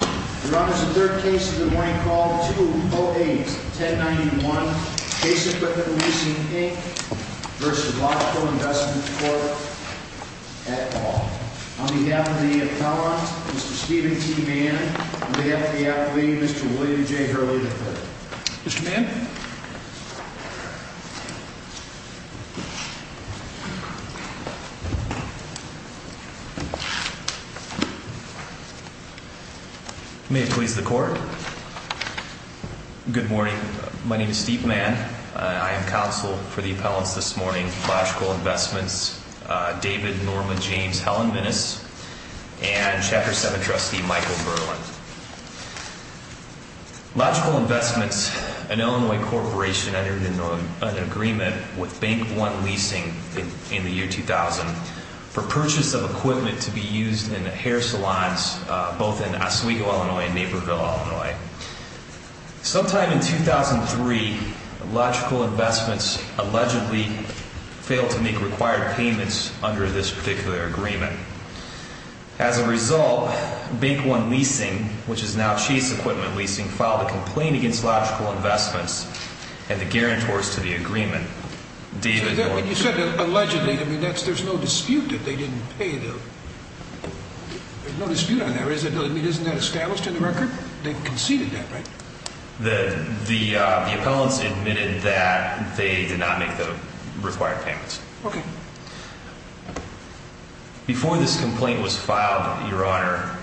Your Honor, the third case of the morning called 208-1091, Case Equipment Leasing Inc. v. Logical Investment Corp. at Ball. On behalf of the appellant, Mr. Steven T. Mann. On behalf of the athlete, Mr. William J. Hurley III. Mr. Mann? May it please the court. Good morning. My name is Steve Mann. I am counsel for the appellants this morning. Logical Investments, David Norma James Helen Minnis and Chapter 7 Trustee Michael Berland. Logical Investments, an Illinois corporation entered an agreement with Bank One Leasing in the year 2000 for purchase of equipment to be used in hair salons both in Oswego, Illinois and Naperville, Illinois. Sometime in 2003, Logical Investments allegedly failed to make required payments under this particular agreement. As a result, Bank One Leasing, which is now Chase Equipment Leasing, filed a complaint against Logical Investments and the guarantors to the agreement. You said allegedly. I mean, there's no dispute that they didn't pay them. There's no dispute on that. I mean, isn't that established in the record? They conceded that, right? The appellants admitted that they did not make the required payments. Okay. Before this complaint was filed, Your Honor,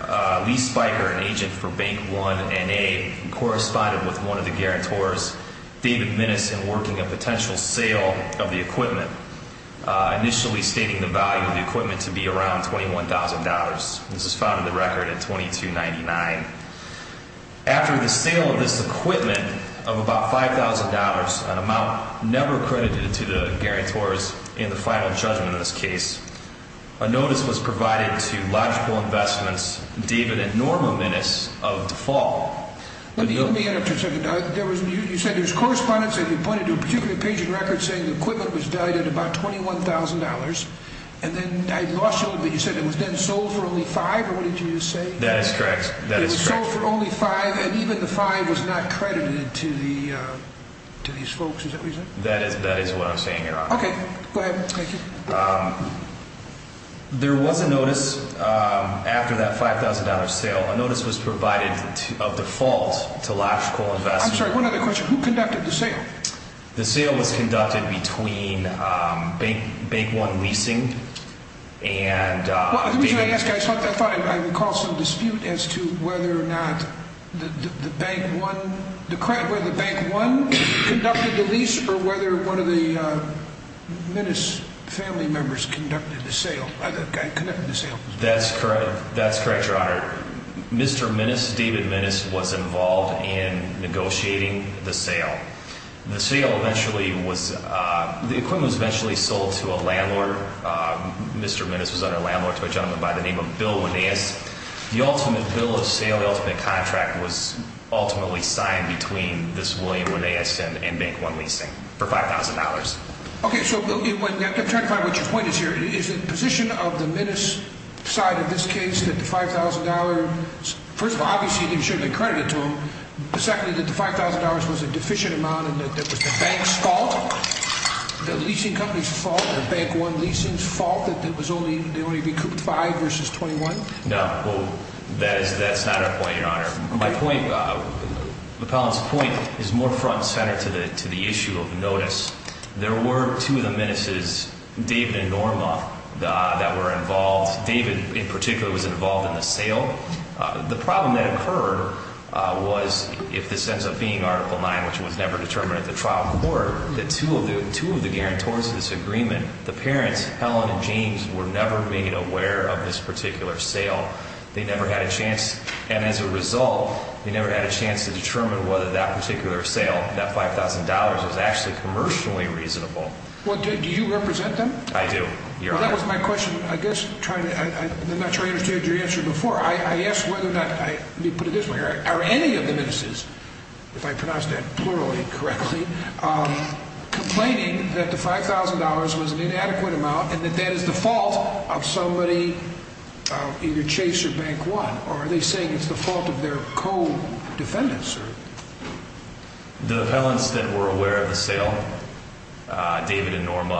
Lee Spiker, an agent for Bank One and A, corresponded with one of the guarantors, David Minnis, in working a potential sale of the equipment, initially stating the value of the equipment to be around $21,000. This is found in the record at $2299. After the sale of this equipment of about $5,000, an amount never credited to the guarantors in the final judgment of this case, a notice was provided to Logical Investments, David and Norma Minnis, of default. Let me interrupt you for a second. You said there was correspondence and you pointed to a particular patient record saying the equipment was valued at about $21,000. And then I lost you a little bit. You said it was then sold for only $5,000, or what did you say? That is correct. That is correct. It was sold for only $5,000, and even the $5,000 was not credited to these folks. Is that what you said? That is what I'm saying, Your Honor. Okay. Go ahead. There was a notice after that $5,000 sale. A notice was provided of default to Logical Investments. I'm sorry, one other question. Who conducted the sale? The sale was conducted between Bank One Leasing and… Minnis' family members conducted the sale. That's correct. That's correct, Your Honor. Mr. Minnis, David Minnis, was involved in negotiating the sale. The sale eventually was – the equipment was eventually sold to a landlord. Mr. Minnis was a landlord to a gentleman by the name of Bill Winais. The ultimate bill of sale, the ultimate contract, was ultimately signed between this William Winais and Bank One Leasing for $5,000. Okay, so I'm trying to find out what your point is here. Is it the position of the Minnis side of this case that the $5,000 – first of all, obviously, it shouldn't have been credited to them. Secondly, that the $5,000 was a deficient amount and that it was the bank's fault, the leasing company's fault, or Bank One Leasing's fault, that it was only – they only recouped $5,000 versus $21,000? No. Well, that's not our point, Your Honor. My point – McClellan's point is more front and center to the issue of notice. There were two of the Minnis's, David and Norma, that were involved. David, in particular, was involved in the sale. The problem that occurred was, if this ends up being Article 9, which was never determined at the trial court, that two of the guarantors of this agreement, the parents, Helen and James, were never made aware of this particular sale. They never had a chance – and as a result, they never had a chance to determine whether that particular sale, that $5,000, was actually commercially reasonable. Well, do you represent them? I do, Your Honor. Well, that was my question. I guess – I'm not sure I understood your answer before. I asked whether or not – let me put it this way, are any of the Minnis's, if I pronounced that plurally correctly, complaining that the $5,000 was an inadequate amount and that that is the fault of somebody, either Chase or Bank One, or are they saying it's the fault of their co-defendants? The Helens that were aware of the sale, David and Norma,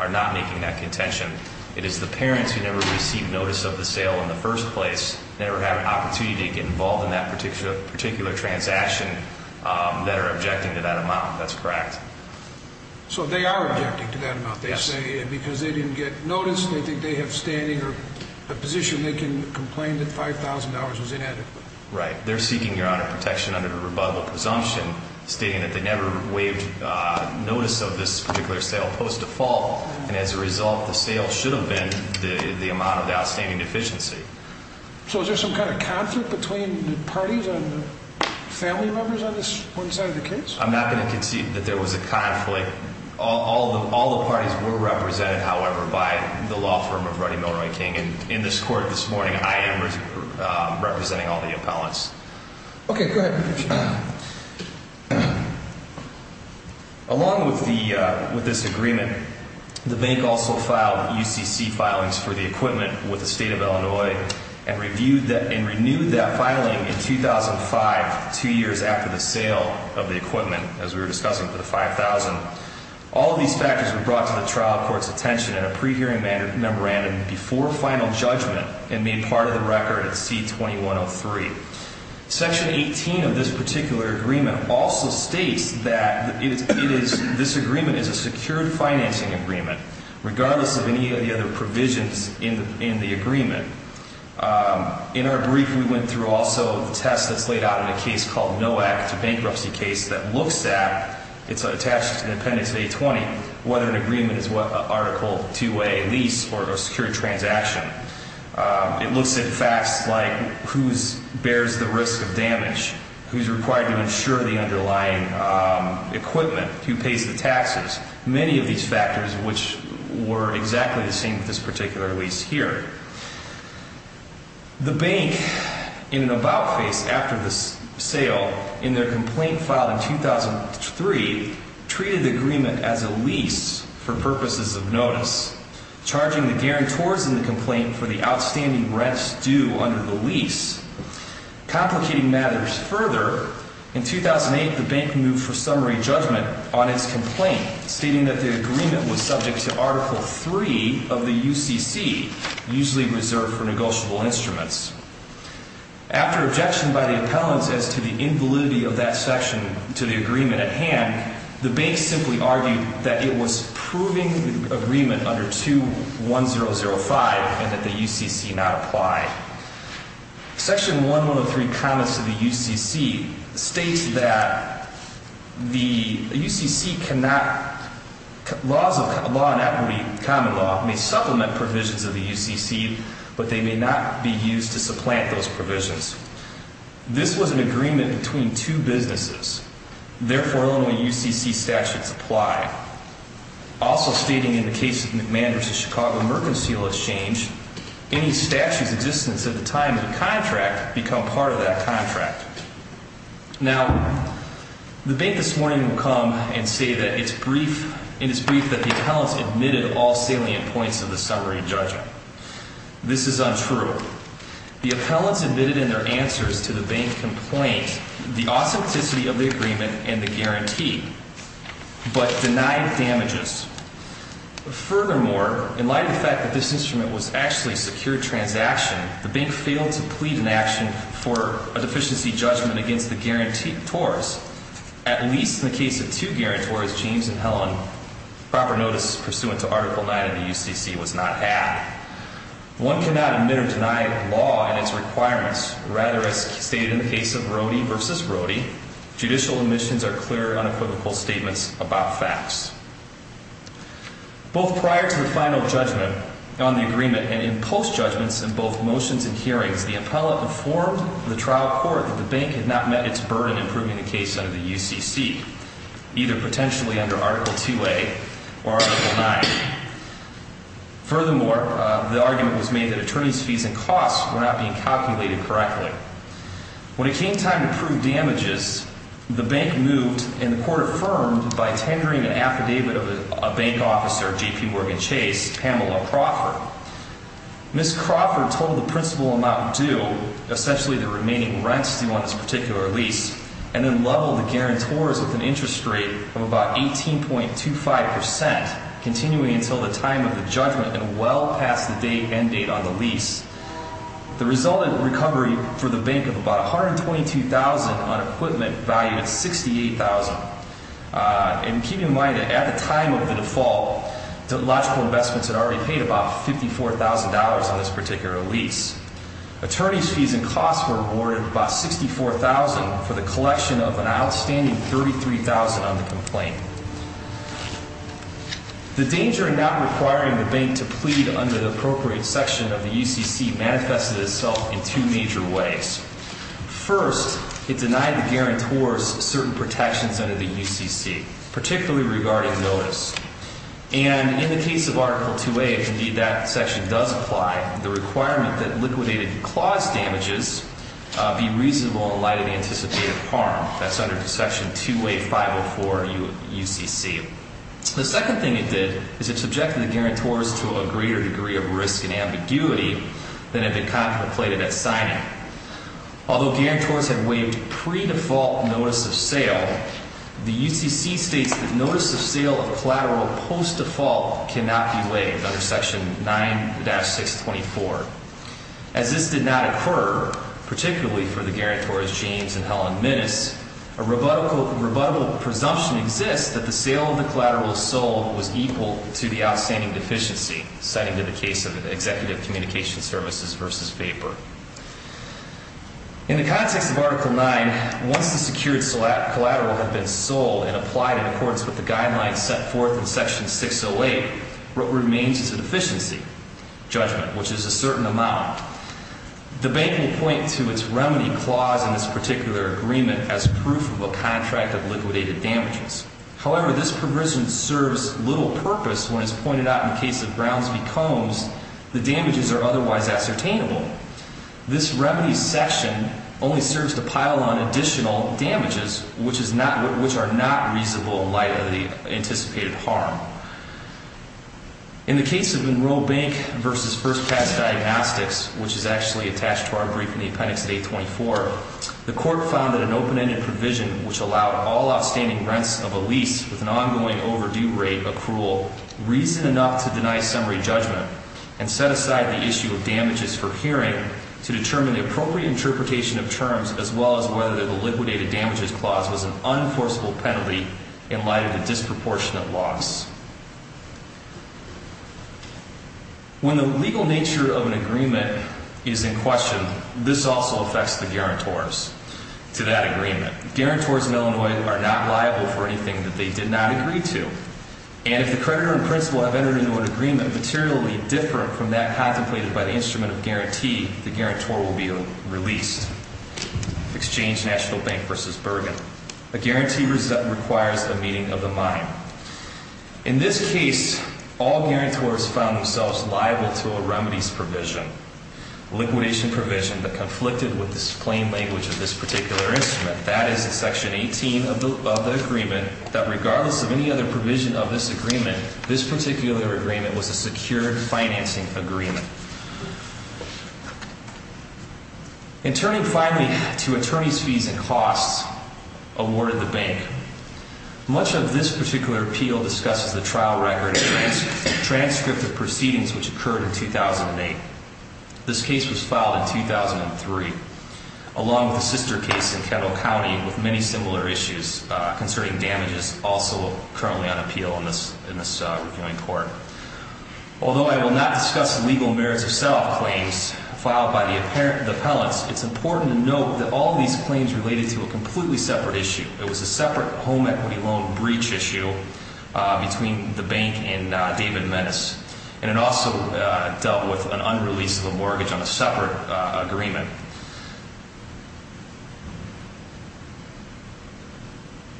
are not making that contention. It is the parents who never received notice of the sale in the first place, never had an opportunity to get involved in that particular transaction, that are objecting to that amount. That's correct. So they are objecting to that amount. Yes. They say because they didn't get notice, they think they have standing or a position they can complain that $5,000 was inadequate. Right. They're seeking, Your Honor, protection under the rebuttal presumption stating that they never waived notice of this particular sale post-default, and as a result, the sale should have been the amount of outstanding deficiency. So is there some kind of conflict between the parties and the family members on this one side of the case? I'm not going to concede that there was a conflict. All the parties were represented, however, by the law firm of Ruddy Milroy King, and in this court this morning, I am representing all the appellants. Okay, go ahead. Along with this agreement, the bank also filed UCC filings for the equipment with the State of Illinois and renewed that filing in 2005, two years after the sale of the equipment, as we were discussing, for the $5,000. All of these factors were brought to the trial court's attention in a pre-hearing memorandum before final judgment and made part of the record at C-2103. Section 18 of this particular agreement also states that this agreement is a secured financing agreement, regardless of any of the other provisions in the agreement. In our brief, we went through also the test that's laid out in a case called NOAC, it's a bankruptcy case, that looks at, it's attached to the appendix A-20, whether an agreement is an Article 2A lease or a secured transaction. It looks at facts like who bears the risk of damage, who's required to insure the underlying equipment, who pays the taxes, many of these factors which were exactly the same with this particular lease here. The bank, in an about face after the sale, in their complaint filed in 2003, treated the agreement as a lease for purposes of notice, charging the guarantors in the complaint for the outstanding rents due under the lease. Complicating matters further, in 2008, the bank moved for summary judgment on its complaint, stating that the agreement was subject to Article 3 of the UCC, usually reserved for negotiable instruments. After objection by the appellants as to the invalidity of that section to the agreement at hand, the bank simply argued that it was proving the agreement under 2-1005 and that the UCC not apply. Section 1103 comments to the UCC states that the UCC cannot, laws of law and equity, common law, may supplement provisions of the UCC, but they may not be used to supplant those provisions. This was an agreement between two businesses. Therefore, only UCC statutes apply. Also stating in the case of the McMahon v. Chicago Mercantile Exchange, any statutes in existence at the time of the contract become part of that contract. Now, the bank this morning will come and say that it's brief, and it's brief that the appellants admitted all salient points of the summary judgment. This is untrue. The appellants admitted in their answers to the bank complaint the authenticity of the agreement and the guarantee, but denied damages. Furthermore, in light of the fact that this instrument was actually a secured transaction, the bank failed to plead in action for a deficiency judgment against the guarantors. At least in the case of two guarantors, James and Helen, proper notice pursuant to Article 9 of the UCC was not had. One cannot admit or deny law and its requirements. Rather, as stated in the case of Rohde v. Rohde, judicial omissions are clear, unequivocal statements about facts. Both prior to the final judgment on the agreement and in post-judgments in both motions and hearings, the appellant informed the trial court that the bank had not met its burden in approving the case under the UCC, either potentially under Article 2A or Article 9. Furthermore, the argument was made that attorneys' fees and costs were not being calculated correctly. When it came time to prove damages, the bank moved, and the court affirmed, by tendering an affidavit of a bank officer, J.P. Morgan Chase, Pamela Crawford. Ms. Crawford totaled the principal amount due, essentially the remaining rents due on this particular lease, and then leveled the guarantors with an interest rate of about 18.25 percent, continuing until the time of the judgment and well past the end date on the lease. The resultant recovery for the bank of about $122,000 on equipment valued at $68,000. And keep in mind that at the time of the default, the logical investments had already paid about $54,000 on this particular lease. Attorneys' fees and costs were awarded about $64,000 for the collection of an outstanding $33,000 on the complaint. The danger in not requiring the bank to plead under the appropriate section of the UCC manifested itself in two major ways. First, it denied the guarantors certain protections under the UCC, particularly regarding notice. And in the case of Article 2A, if indeed that section does apply, the requirement that liquidated clause damages be reasonable in light of the anticipated harm. That's under Section 2A504 UCC. The second thing it did is it subjected the guarantors to a greater degree of risk and ambiguity than had been contemplated at signing. Although guarantors had waived pre-default notice of sale, the UCC states that notice of sale of collateral post-default cannot be waived under Section 9-624. As this did not occur, particularly for the guarantors, James and Helen Minnis, a rebuttable presumption exists that the sale of the collateral sold was equal to the outstanding deficiency, citing the case of Executive Communication Services v. Vapor. In the context of Article 9, once the secured collateral had been sold and applied in accordance with the guidelines set forth in Section 608, what remains is a deficiency judgment, which is a certain amount. The bank will point to its remedy clause in this particular agreement as proof of a contract of liquidated damages. However, this provision serves little purpose when it's pointed out in the case of Browns v. Combs the damages are otherwise ascertainable. This remedy section only serves to pile on additional damages, which are not reasonable in light of the anticipated harm. In the case of Enrolled Bank v. First Class Diagnostics, which is actually attached to our brief in the appendix at 824, the Court found that an open-ended provision which allowed all outstanding rents of a lease with an ongoing overdue rate accrual reason enough to deny summary judgment and set aside the issue of damages for hearing to determine the appropriate interpretation of terms as well as whether the liquidated damages clause was an unenforceable penalty in light of the disproportionate loss. When the legal nature of an agreement is in question, this also affects the guarantors to that agreement. Guarantors in Illinois are not liable for anything that they did not agree to. And if the creditor and principal have entered into an agreement materially different from that contemplated by the instrument of guarantee, the guarantor will be released. Exchange National Bank v. Bergen. A guarantee requires a meeting of the mind. In this case, all guarantors found themselves liable to a remedies provision, a liquidation provision that conflicted with the plain language of this particular instrument. That is in Section 18 of the agreement that regardless of any other provision of this agreement, this particular agreement was a secured financing agreement. In turning finally to attorney's fees and costs awarded the bank, much of this particular appeal discusses the trial record and transcript of proceedings which occurred in 2008. This case was filed in 2003 along with the sister case in Kendall County with many similar issues concerning damages also currently on appeal in this reviewing court. Although I will not discuss the legal merits of self claims filed by the appellants, it's important to note that all of these claims related to a completely separate issue. It was a separate home equity loan breach issue between the bank and David Metz. And it also dealt with an unrelease of a mortgage on a separate agreement.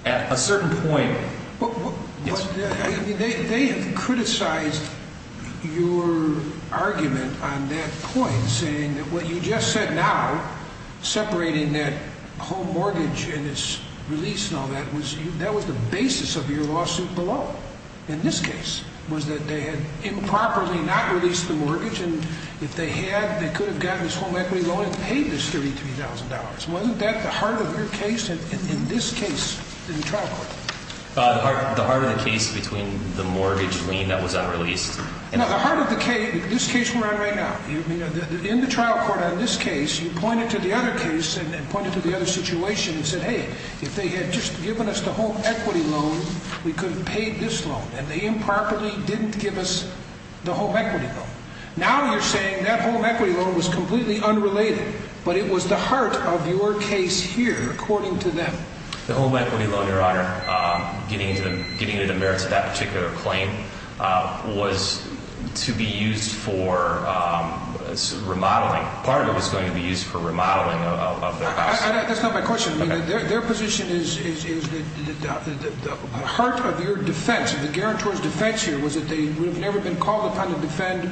At a certain point. They have criticized your argument on that point saying that what you just said now, separating that home mortgage and its release and all that, that was the basis of your lawsuit below. And this case was that they had improperly not released the mortgage and if they had, they could have gotten this home equity loan and paid this $33,000. Wasn't that the heart of your case in this case in the trial court? The heart of the case between the mortgage lien that was unreleased. No, the heart of the case, this case we're on right now. In the trial court on this case, you pointed to the other case and pointed to the other situation and said, hey, if they had just given us the home equity loan, we could have paid this loan. And they improperly didn't give us the home equity loan. Now you're saying that home equity loan was completely unrelated. But it was the heart of your case here, according to them. The home equity loan, Your Honor, getting into the merits of that particular claim, was to be used for remodeling. Part of it was going to be used for remodeling of their house. That's not my question. Their position is that the heart of your defense, the guarantor's defense here, was that they would have never been called upon to defend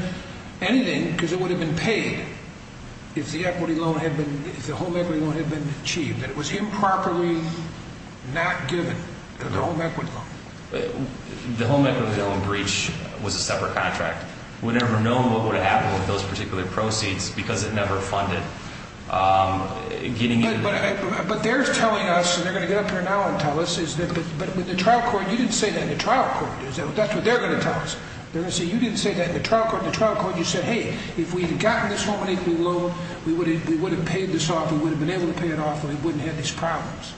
anything because it would have been paid if the home equity loan had been achieved. That it was improperly not given, the home equity loan. The home equity loan breach was a separate contract. We never know what would have happened with those particular proceeds because it never funded. But they're telling us, and they're going to get up here now and tell us, you didn't say that in the trial court. That's what they're going to tell us. You didn't say that in the trial court. In the trial court you said, hey, if we had gotten this home equity loan, we would have paid this off, we would have been able to pay it off, and we wouldn't have had these problems.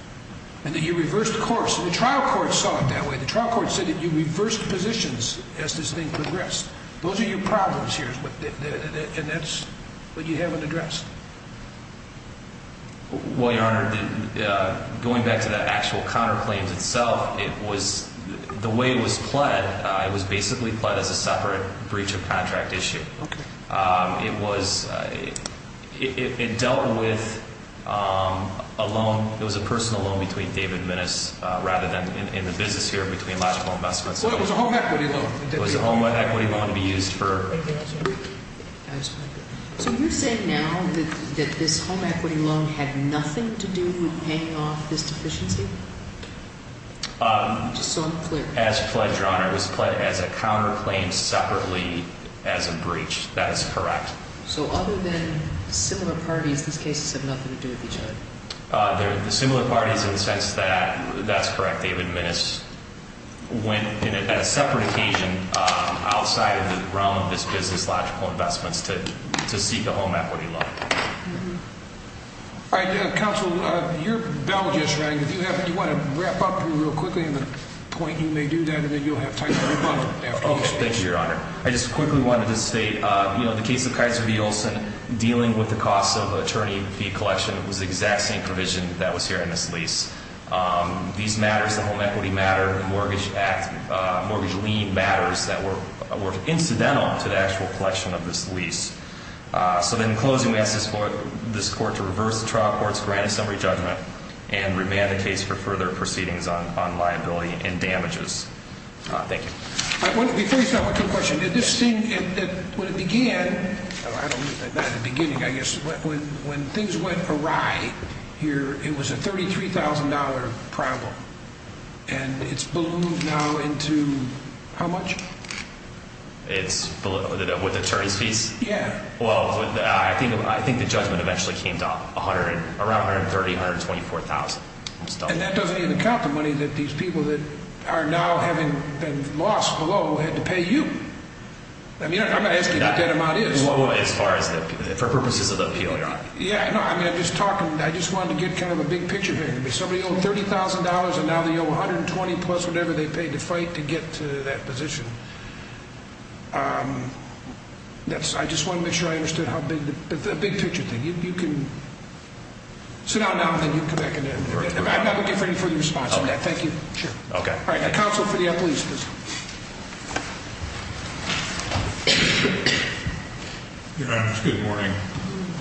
And then you reversed course, and the trial court saw it that way. The trial court said that you reversed positions as this thing progressed. Those are your problems here, and that's what you haven't addressed. Well, Your Honor, going back to that actual counterclaims itself, the way it was pled, it was basically pled as a separate breach of contract issue. It dealt with a loan. It was a personal loan between David Minnis rather than in the business here between Logical Investments. Well, it was a home equity loan. It was a home equity loan to be used for. So you're saying now that this home equity loan had nothing to do with paying off this deficiency? Just so I'm clear. As pled, Your Honor, it was pled as a counterclaim separately as a breach. That is correct. So other than similar parties, these cases have nothing to do with each other? They're similar parties in the sense that that's correct. David Minnis went in at a separate occasion outside of the realm of this business, Logical Investments, to seek a home equity loan. All right. Counsel, your bell just rang. If you want to wrap up here real quickly on the point, you may do that, and then you'll have time for a rebuttal. Okay. Thank you, Your Honor. I just quickly wanted to state, you know, the case of Kaiser v. Olson, dealing with the cost of attorney fee collection was the exact same provision that was here in this lease. These matters, the home equity matter, mortgage act, mortgage lien matters, that were incidental to the actual collection of this lease. So then in closing, we ask this court to reverse the trial court's granted summary judgment and remand the case for further proceedings on liability and damages. Thank you. Let me finish that with two questions. When it began, not in the beginning, I guess, when things went awry here, it was a $33,000 problem, and it's ballooned now into how much? It's ballooned with attorneys fees? Yeah. Well, I think the judgment eventually came to around $130,000, $124,000. And that doesn't even count the money that these people that are now having been lost below had to pay you. I mean, I'm not asking what that amount is. Below as far as the – for purposes of the appeal, Your Honor. Yeah, no, I mean, I'm just talking – I just wanted to get kind of a big picture here. Somebody owed $30,000, and now they owe $120,000 plus whatever they paid to fight to get to that position. I just wanted to make sure I understood how big – a big picture thing. You can sit down now, and then you can come back at the end. I'm not looking for any further response on that. Thank you. Sure. Okay. All right. Counsel for the appellees, please. Your Honor, good morning.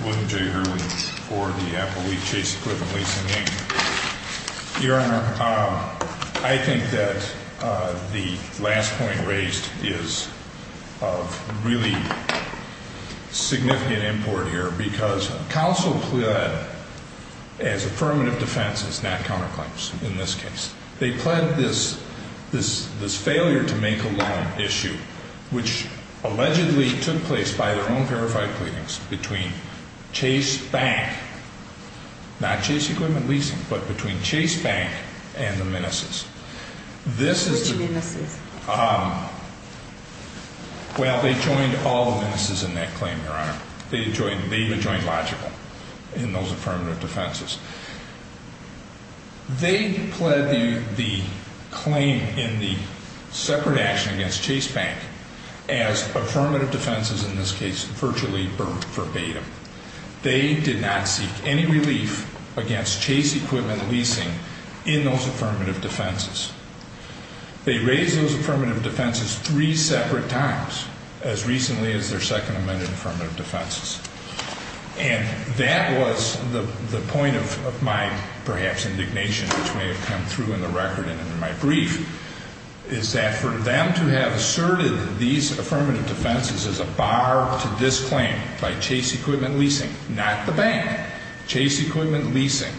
William J. Hurley for the Appellee Chase Equipment Leasing, Inc. Your Honor, I think that the last point raised is of really significant import here because counsel pled as affirmative defense is not counterclaims in this case. They pled this failure to make a loan issue which allegedly took place by their own verified pleadings between Chase Bank – not Chase Equipment Leasing, but between Chase Bank and the Meneses. Which Meneses? Well, they joined all the Meneses in that claim, Your Honor. They joined Logical in those affirmative defenses. They pled the claim in the separate action against Chase Bank as affirmative defenses, in this case, virtually verbatim. They did not seek any relief against Chase Equipment Leasing in those affirmative defenses. They raised those affirmative defenses three separate times as recently as their second amended affirmative defenses. And that was the point of my perhaps indignation, which may have come through in the record and in my brief, is that for them to have asserted these affirmative defenses as a bar to this claim by Chase Equipment Leasing, not the bank, Chase Equipment Leasing,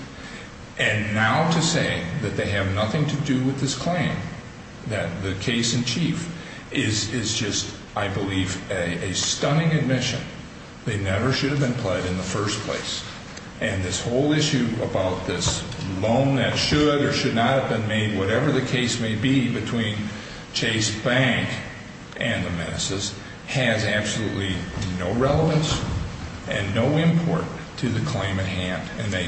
and now to say that they have nothing to do with this claim, that the case in chief is just, I believe, a stunning admission. They never should have been pled in the first place. And this whole issue about this loan that should or should not have been made, whatever the case may be between Chase Bank and the Meneses, has absolutely no relevance and no import to the claim at hand. And they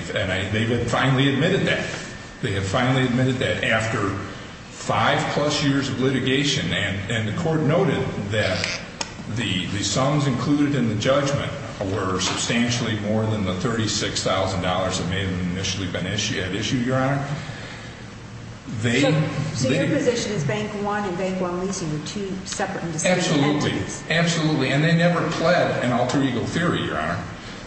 have finally admitted that. They have finally admitted that after five-plus years of litigation. And the Court noted that the sums included in the judgment were substantially more than the $36,000 that may have initially been at issue, Your Honor. So your position is Bank One and Bank One Leasing were two separate and distinct entities? Absolutely. Absolutely. And they never pled an alter ego theory, Your Honor.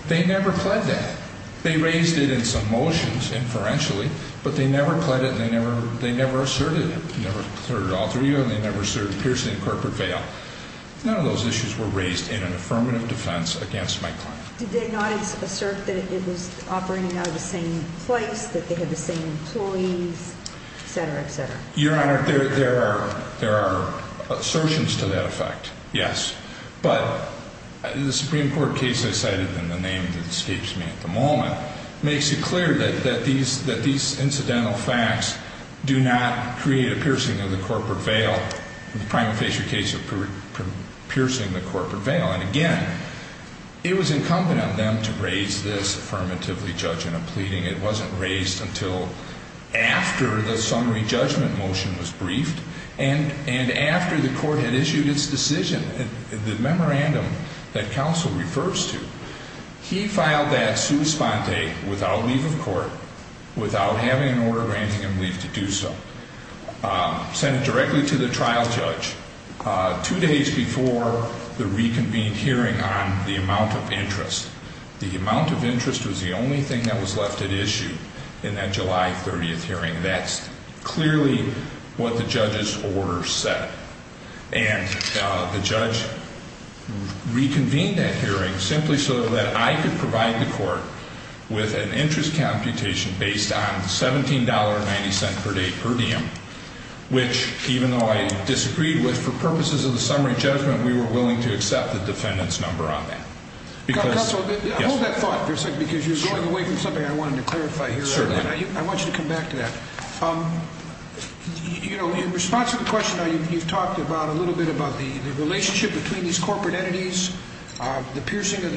They never pled that. They raised it in some motions inferentially, but they never pled it and they never asserted it. They never asserted alter ego and they never asserted piercing corporate veil. None of those issues were raised in an affirmative defense against my claim. Did they not assert that it was operating out of the same place, that they had the same employees, et cetera, et cetera? Your Honor, there are assertions to that effect, yes. But the Supreme Court case I cited in the name that escapes me at the moment makes it clear that these incidental facts do not create a piercing of the corporate veil, the prima facie case of piercing the corporate veil. And, again, it was incumbent on them to raise this affirmatively, judge in a pleading. It wasn't raised until after the summary judgment motion was briefed and after the Court had issued its decision, the memorandum that counsel refers to. He filed that sua sponte without leave of court, without having an order granting him leave to do so. Sent it directly to the trial judge two days before the reconvened hearing on the amount of interest. The amount of interest was the only thing that was left at issue in that July 30th hearing. That's clearly what the judge's order said. And the judge reconvened that hearing simply so that I could provide the Court with an interest computation based on $17.90 per day per diem, which, even though I disagreed with, for purposes of the summary judgment, we were willing to accept the defendant's number on that. Counsel, hold that thought for a second, because you're going away from something I wanted to clarify here. Certainly. I want you to come back to that. In response to the question you've talked about, a little bit about the relationship between these corporate entities, the piercing of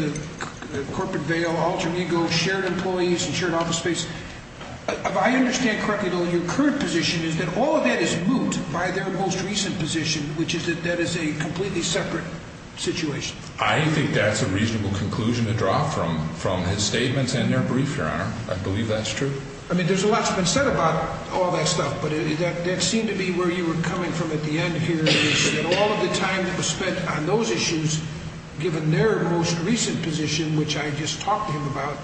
the corporate veil, alter ego, shared employees, shared office space, if I understand correctly, though, your current position is that all of that is moot by their most recent position, which is that that is a completely separate situation. I think that's a reasonable conclusion to draw from his statements and their brief, Your Honor. I believe that's true. I mean, there's a lot that's been said about all that stuff, but that seemed to be where you were coming from at the end here, which is that all of the time that was spent on those issues, given their most recent position, which I just talked to him about,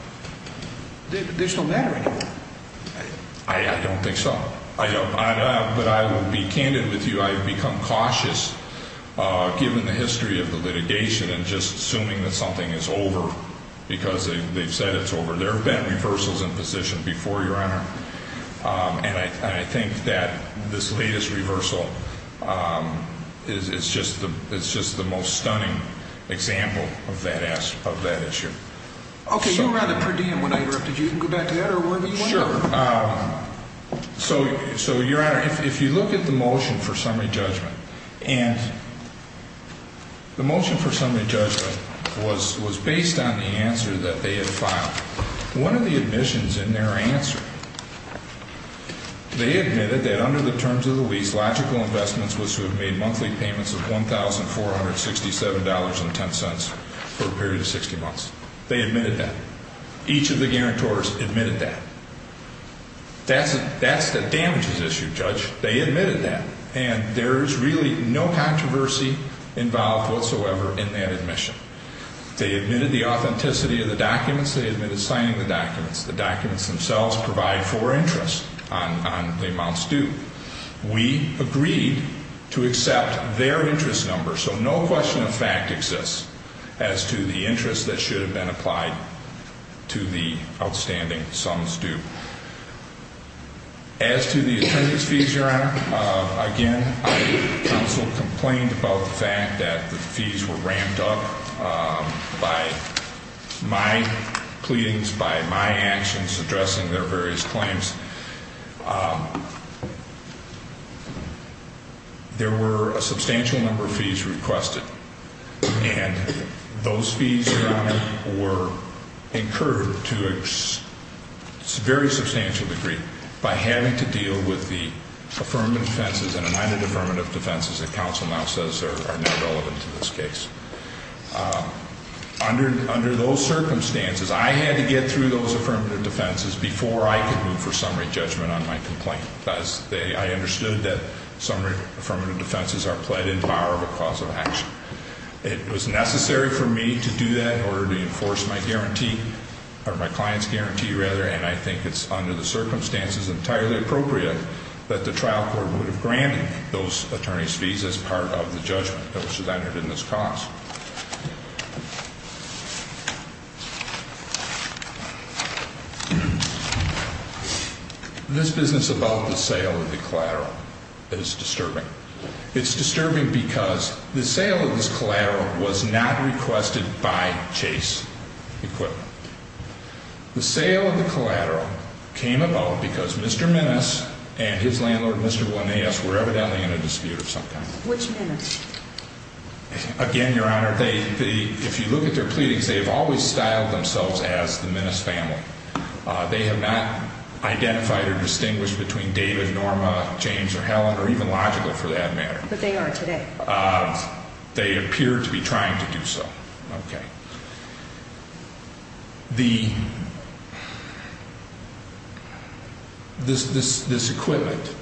there's no matter anymore. I don't think so. But I will be candid with you. I've become cautious, given the history of the litigation, and just assuming that something is over, because they've said it's over. There have been reversals in position before, Your Honor. And I think that this latest reversal is just the most stunning example of that issue. Okay. You were on the per diem when I interrupted you. You can go back to that or wherever you want to go. Sure. So, Your Honor, if you look at the motion for summary judgment, and the motion for summary judgment was based on the answer that they had filed. One of the admissions in their answer, they admitted that under the terms of the lease, logical investments was to have made monthly payments of $1,467.10 for a period of 60 months. They admitted that. Each of the guarantors admitted that. That's the damages issue, Judge. They admitted that. And there's really no controversy involved whatsoever in that admission. They admitted the authenticity of the documents. They admitted signing the documents. The documents themselves provide for interest on the amounts due. We agreed to accept their interest number. So no question of fact exists as to the interest that should have been applied to the outstanding sums due. As to the attorney's fees, Your Honor, again, counsel complained about the fact that the fees were ramped up by my pleadings, by my actions addressing their various claims. There were a substantial number of fees requested. And those fees, Your Honor, were incurred to a very substantial degree by having to deal with the affirmative defenses and the non-affirmative defenses that counsel now says are not relevant to this case. Under those circumstances, I had to get through those affirmative defenses before I could move for summary judgment on my complaint. I understood that summary affirmative defenses are pled in power of a cause of action. It was necessary for me to do that in order to enforce my guarantee, or my client's guarantee, rather, and I think it's under the circumstances entirely appropriate that the trial court would have granted those attorney's fees as part of the judgment that was entered in this cause. This business about the sale of the collateral is disturbing. It's disturbing because the sale of this collateral was not requested by Chase Equipment. The sale of the collateral came about because Mr. Minnis and his landlord, Mr. Bonillas, were evidently in a dispute of some kind. Which Minnis? Again, Your Honor, if you look at their pleadings, they have always styled themselves as the Minnis family. They have not identified or distinguished between David, Norma, James, or Helen, or even logical for that matter. But they are today. They appear to be trying to do so. Okay. The, this equipment,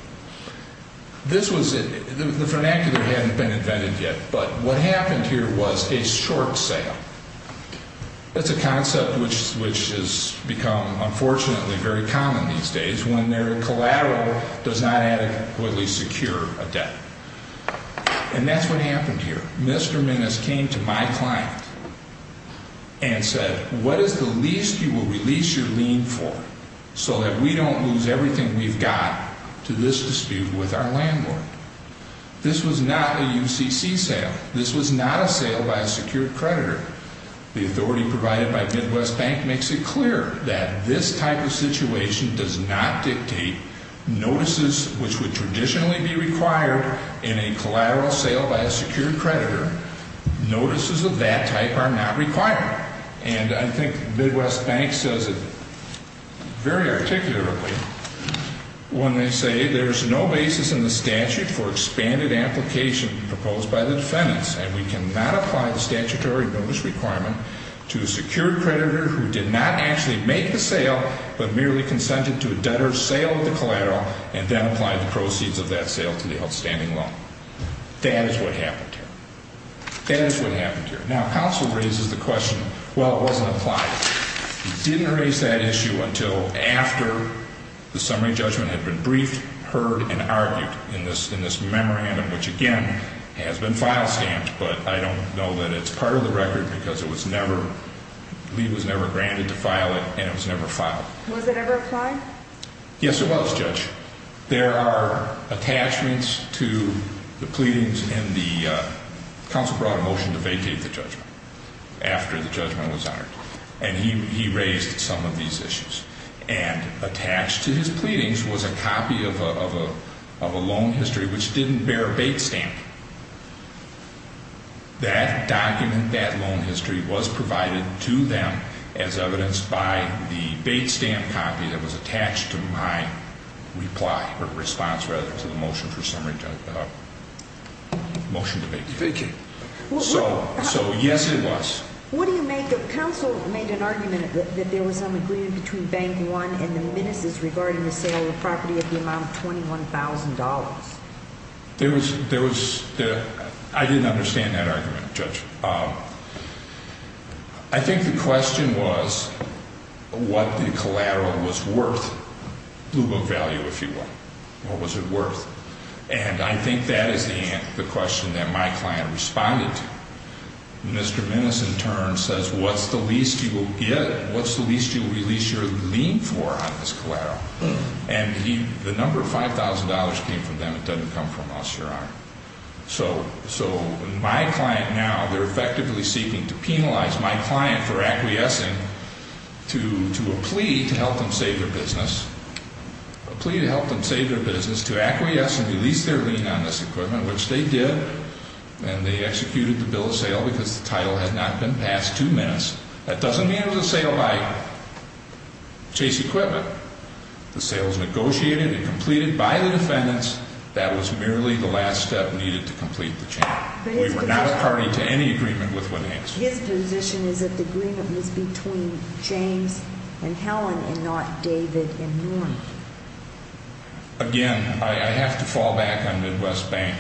this was, the vernacular hadn't been invented yet, but what happened here was a short sale. That's a concept which has become, unfortunately, very common these days when their collateral does not adequately secure a debt. And that's what happened here. Mr. Minnis came to my client and said, What is the least you will release your lien for so that we don't lose everything we've got to this dispute with our landlord? This was not a UCC sale. This was not a sale by a secured creditor. The authority provided by Midwest Bank makes it clear that this type of situation does not dictate notices which would traditionally be required in a collateral sale by a secured creditor. Notices of that type are not required. And I think Midwest Bank says it very articulately when they say there's no basis in the statute for expanded application proposed by the defendants, and we cannot apply the statutory notice requirement to a secured creditor who did not actually make the sale, but merely consented to a debtor's sale of the collateral and then applied the proceeds of that sale to the outstanding loan. That is what happened here. That is what happened here. Now, counsel raises the question, Well, it wasn't applied. He didn't raise that issue until after the summary judgment had been briefed, heard, and argued in this memorandum, which, again, has been file stamped, but I don't know that it's part of the record because it was never, lien was never granted to file it, and it was never filed. Was it ever applied? Yes, it was, Judge. There are attachments to the pleadings, and the counsel brought a motion to vacate the judgment after the judgment was honored, and he raised some of these issues. And attached to his pleadings was a copy of a loan history which didn't bear a bait stamp. That document, that loan history, was provided to them as evidenced by the bait stamp copy that was attached to my reply or response, rather, to the motion for summary judgment. Motion to vacate. Vacate. So, yes, it was. What do you make of counsel made an argument that there was some agreement between Bank One and the ministers regarding the sale of the property at the amount of $21,000? I didn't understand that argument, Judge. I think the question was what the collateral was worth, blue book value, if you will. What was it worth? And I think that is the question that my client responded to. Mr. Minnis, in turn, says, what's the least you will get, what's the least you will release your lien for on this collateral? And the number of $5,000 came from them. It doesn't come from us, Your Honor. So my client now, they're effectively seeking to penalize my client for acquiescing to a plea to help them save their business, a plea to help them save their business to acquiesce and release their lien on this equipment, which they did, and they executed the bill of sale because the title had not been passed two minutes. That doesn't mean it was a sale by Chase Equipment. The sale was negotiated and completed by the defendants. That was merely the last step needed to complete the change. We were not a party to any agreement with what happened. His position is that the agreement was between James and Helen and not David and Norm. Again, I have to fall back on Midwest Bank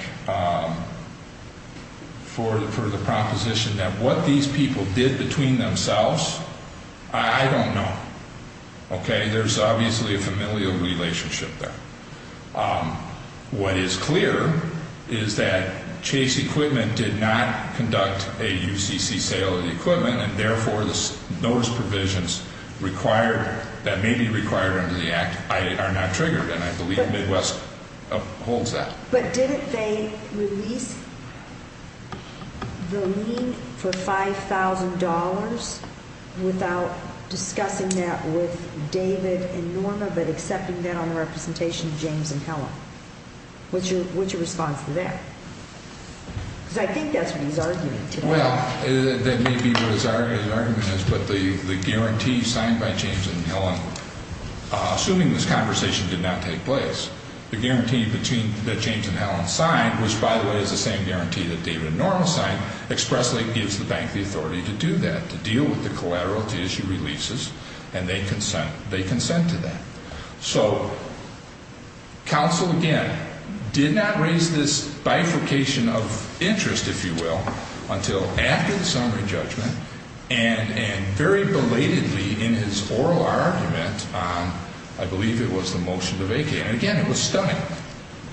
for the proposition that what these people did between themselves, I don't know. Okay? There's obviously a familial relationship there. What is clear is that Chase Equipment did not conduct a UCC sale of the equipment and, therefore, those provisions that may be required under the Act are not triggered, and I believe Midwest upholds that. But didn't they release the lien for $5,000 without discussing that with David and Norma but accepting that on the representation of James and Helen? What's your response to that? Because I think that's what he's arguing today. Well, that may be what his argument is, but the guarantee signed by James and Helen, assuming this conversation did not take place, the guarantee that James and Helen signed, which, by the way, is the same guarantee that David and Norma signed, expressly gives the bank the authority to do that, to deal with the collateral to issue releases, and they consent to that. So counsel, again, did not raise this bifurcation of interest, if you will, until after the summary judgment and very belatedly in his oral argument on, I believe it was the motion to vacate. And, again, it was stunning.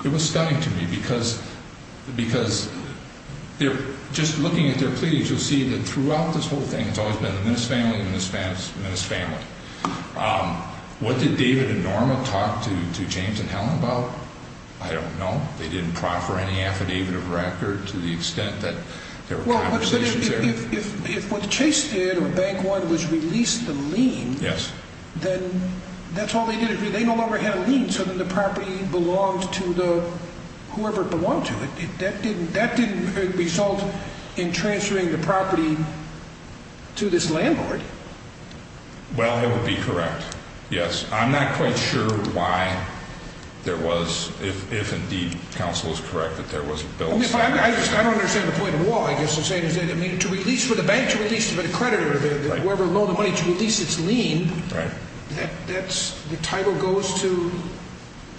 It was stunning to me because just looking at their pleadings, you'll see that throughout this whole thing, it's always been the Minnis family, the Minnis family. What did David and Norma talk to James and Helen about? I don't know. They didn't proffer any affidavit of record to the extent that there were conversations there. Well, but if what Chase did or Bank One was release the lien, then that's all they did. They no longer had a lien, so then the property belonged to whoever belonged to it. That didn't result in transferring the property to this landlord. Well, it would be correct, yes. I'm not quite sure why there was, if indeed counsel is correct, that there was a bill. I don't understand the point of the law. I guess what I'm saying is that, I mean, to release, for the bank to release, for the creditor, whoever loaned the money to release its lien, that's, the title goes to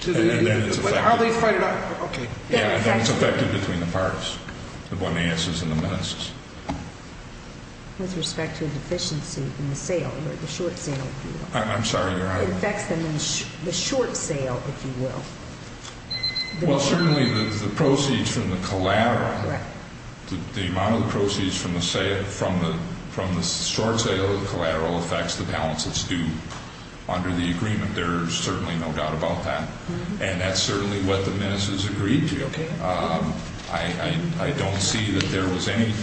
the, and then it's affected. Okay. Yeah, I think it's affected between the parties, the Bonaeses and the Minnis. With respect to a deficiency in the sale, the short sale, if you will. I'm sorry, Your Honor. It affects them in the short sale, if you will. Well, certainly the proceeds from the collateral, the amount of the proceeds from the sale, from the short sale of the collateral affects the balance that's due under the agreement. I think there's certainly no doubt about that. And that's certainly what the Minnis has agreed to. Okay. I don't see that there was any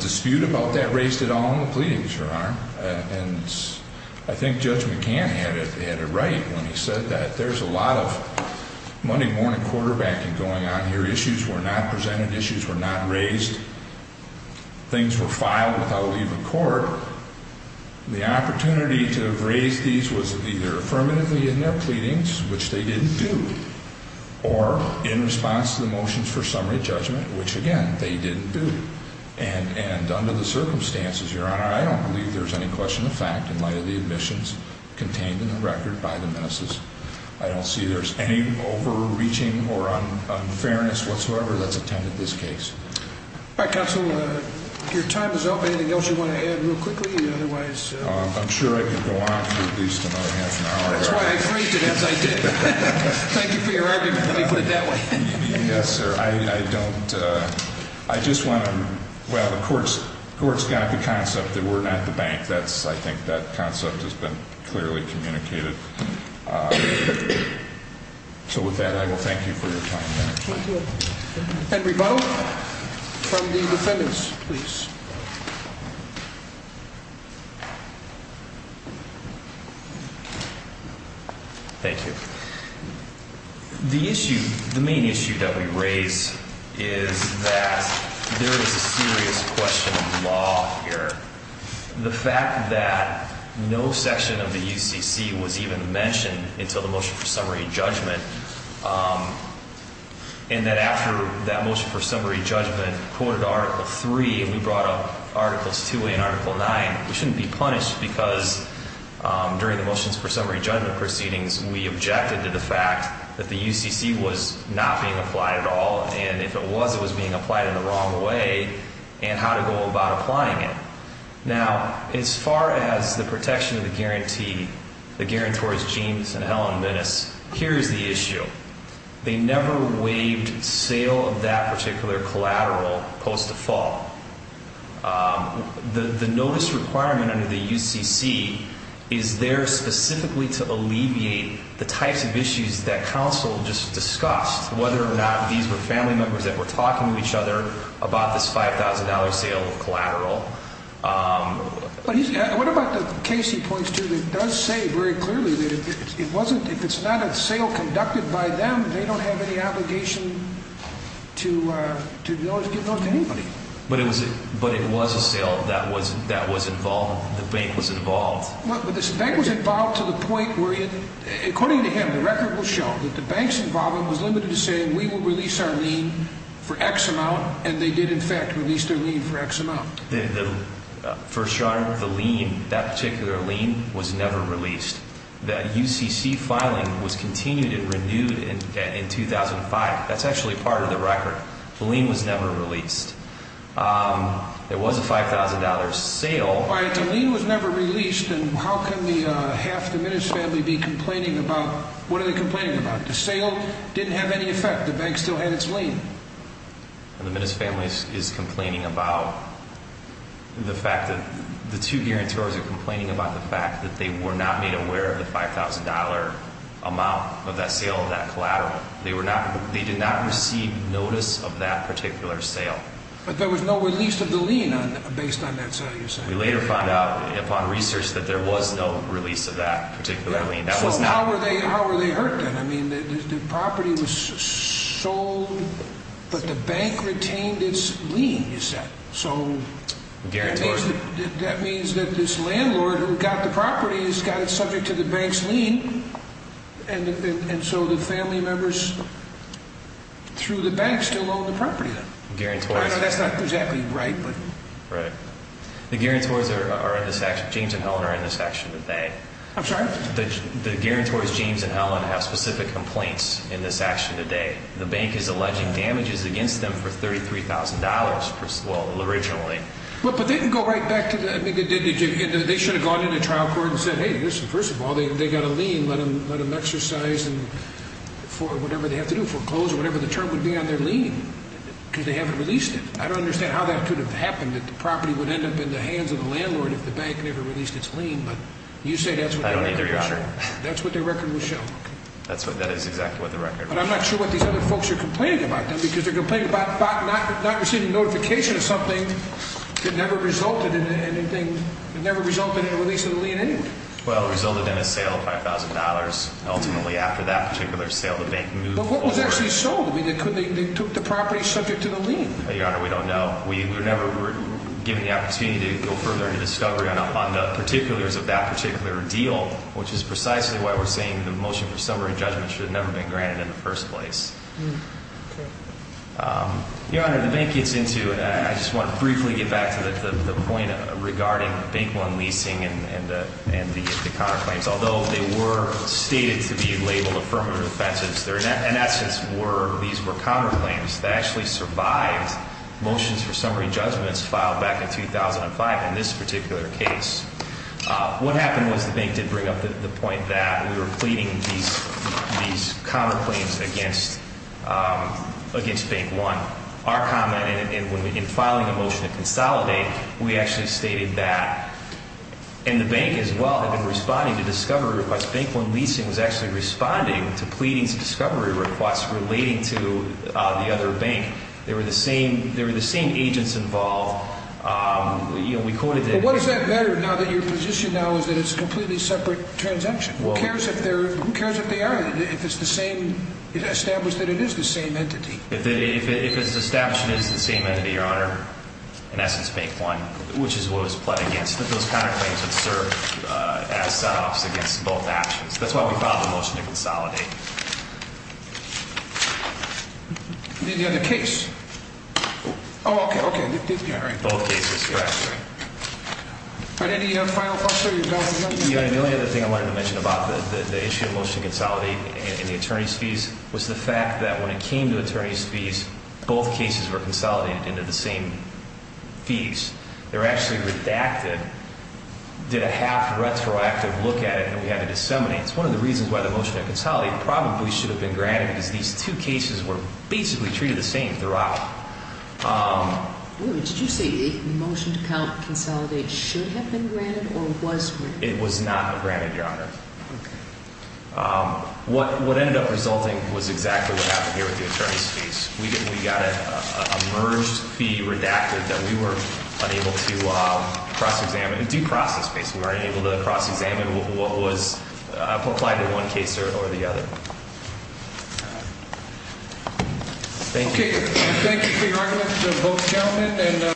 dispute about that raised at all in the pleadings, Your Honor. And I think Judge McCann had it right when he said that. There's a lot of Monday morning quarterbacking going on here. Issues were not presented. Issues were not raised. Things were filed without leave of court. The opportunity to have raised these was either affirmatively in their pleadings, which they didn't do, or in response to the motions for summary judgment, which, again, they didn't do. And under the circumstances, Your Honor, I don't believe there's any question of fact in light of the admissions contained in the record by the Minnis'. I don't see there's any overreaching or unfairness whatsoever that's attended this case. All right, Counselor, if your time is up, anything else you want to add real quickly? I'm sure I could go on for at least another half an hour. That's why I phrased it as I did. Thank you for your argument, let me put it that way. Yes, sir. I just want to, well, the court's got the concept that we're not the bank. I think that concept has been clearly communicated. So with that, I will thank you for your time. And we vote from the defendants, please. Thank you. The issue, the main issue that we raise is that there is a serious question of law here. The fact that no section of the UCC was even mentioned until the motion for summary judgment and that after that motion for summary judgment quoted Article 3, and we brought up Articles 2A and Article 9, we shouldn't be punished because during the motions for summary judgment proceedings, we objected to the fact that the UCC was not being applied at all, and if it was, it was being applied in the wrong way, and how to go about applying it. Now, as far as the protection of the guarantee, the guarantors, James and Helen Minnis, here is the issue. They never waived sale of that particular collateral post the fall. The notice requirement under the UCC is there specifically to alleviate the types of issues that counsel just discussed, whether or not these were family members that were talking to each other What about the case he points to that does say very clearly that it wasn't, if it's not a sale conducted by them, they don't have any obligation to give those to anybody. But it was a sale that was involved, the bank was involved. The bank was involved to the point where, according to him, the record will show, that the bank's involvement was limited to saying we will release our lien for X amount, and they did in fact release their lien for X amount. For sure, the lien, that particular lien was never released. The UCC filing was continued and renewed in 2005. That's actually part of the record. The lien was never released. It was a $5,000 sale. All right, the lien was never released, and how can half the Minnis family be complaining about, what are they complaining about? The sale didn't have any effect, the bank still had its lien. The Minnis family is complaining about the fact that, the two guarantors are complaining about the fact that they were not made aware of the $5,000 amount of that sale of that collateral. They did not receive notice of that particular sale. But there was no release of the lien based on that sale you're saying? We later found out upon research that there was no release of that particular lien. So how were they hurt then? I mean, the property was sold, but the bank retained its lien, you said. So that means that this landlord who got the property has got it subject to the bank's lien, and so the family members through the bank still own the property then. I know that's not exactly right, but... The guarantors, James and Helen, are in this action today. I'm sorry? The guarantors, James and Helen, have specific complaints in this action today. The bank is alleging damages against them for $33,000, well, originally. But they didn't go right back to the... They should have gone into trial court and said, hey, listen, first of all, they got a lien, let them exercise for whatever they have to do, foreclosure, whatever the term would be on their lien, because they haven't released it. I don't understand how that could have happened, that the property would end up in the hands of the landlord if the bank never released its lien. I don't either, Your Honor. That's what their record would show. That is exactly what the record would show. But I'm not sure what these other folks are complaining about then, because they're complaining about not receiving notification of something that never resulted in anything, that never resulted in the release of the lien anyway. Well, it resulted in a sale of $5,000. Ultimately, after that particular sale, the bank moved over. But what was actually sold? I mean, they took the property subject to the lien. Your Honor, we don't know. We were never given the opportunity to go further into discovery on the particulars of that particular deal, which is precisely why we're saying the motion for summary judgment should have never been granted in the first place. Your Honor, the bank gets into, I just want to briefly get back to the point regarding bank loan leasing and the counterclaims. Although they were stated to be labeled affirmative offenses, in essence, these were counterclaims that actually survived motions for summary judgments filed back in 2005 in this particular case. What happened was the bank did bring up the point that we were pleading these counterclaims against Bank One. Our comment in filing a motion to consolidate, we actually stated that. And the bank, as well, had been responding to discovery requests. Bank One Leasing was actually responding to pleadings of discovery requests relating to the other bank. They were the same agents involved. But what does that matter now that your position now is that it's a completely separate transaction? Who cares if they are? If it's the same, it's established that it is the same entity. If its establishment is the same entity, Your Honor, in essence, Bank One, which is what it was pled against, that those counterclaims would serve as set-offs against both actions. That's why we filed a motion to consolidate. Any other case? Oh, okay, okay. Both cases, correct. All right, any final thoughts there, Your Honor? Your Honor, the only other thing I wanted to mention about the issue of motion to consolidate and the attorney's fees was the fact that when it came to attorney's fees, both cases were consolidated into the same fees. They were actually redacted, did a half-retroactive look at it, and we had to disseminate it. It's one of the reasons why the motion to consolidate probably should have been granted, because these two cases were basically treated the same throughout. Wait a minute, did you say the motion to consolidate should have been granted or was granted? It was not granted, Your Honor. Okay. What ended up resulting was exactly what happened here with the attorney's fees. We got a merged fee redacted that we were unable to cross-examine. Deprocessed, basically. We weren't able to cross-examine what was applied in one case or the other. Thank you. Okay, thank you for your argument, Mr. Post-Gentleman.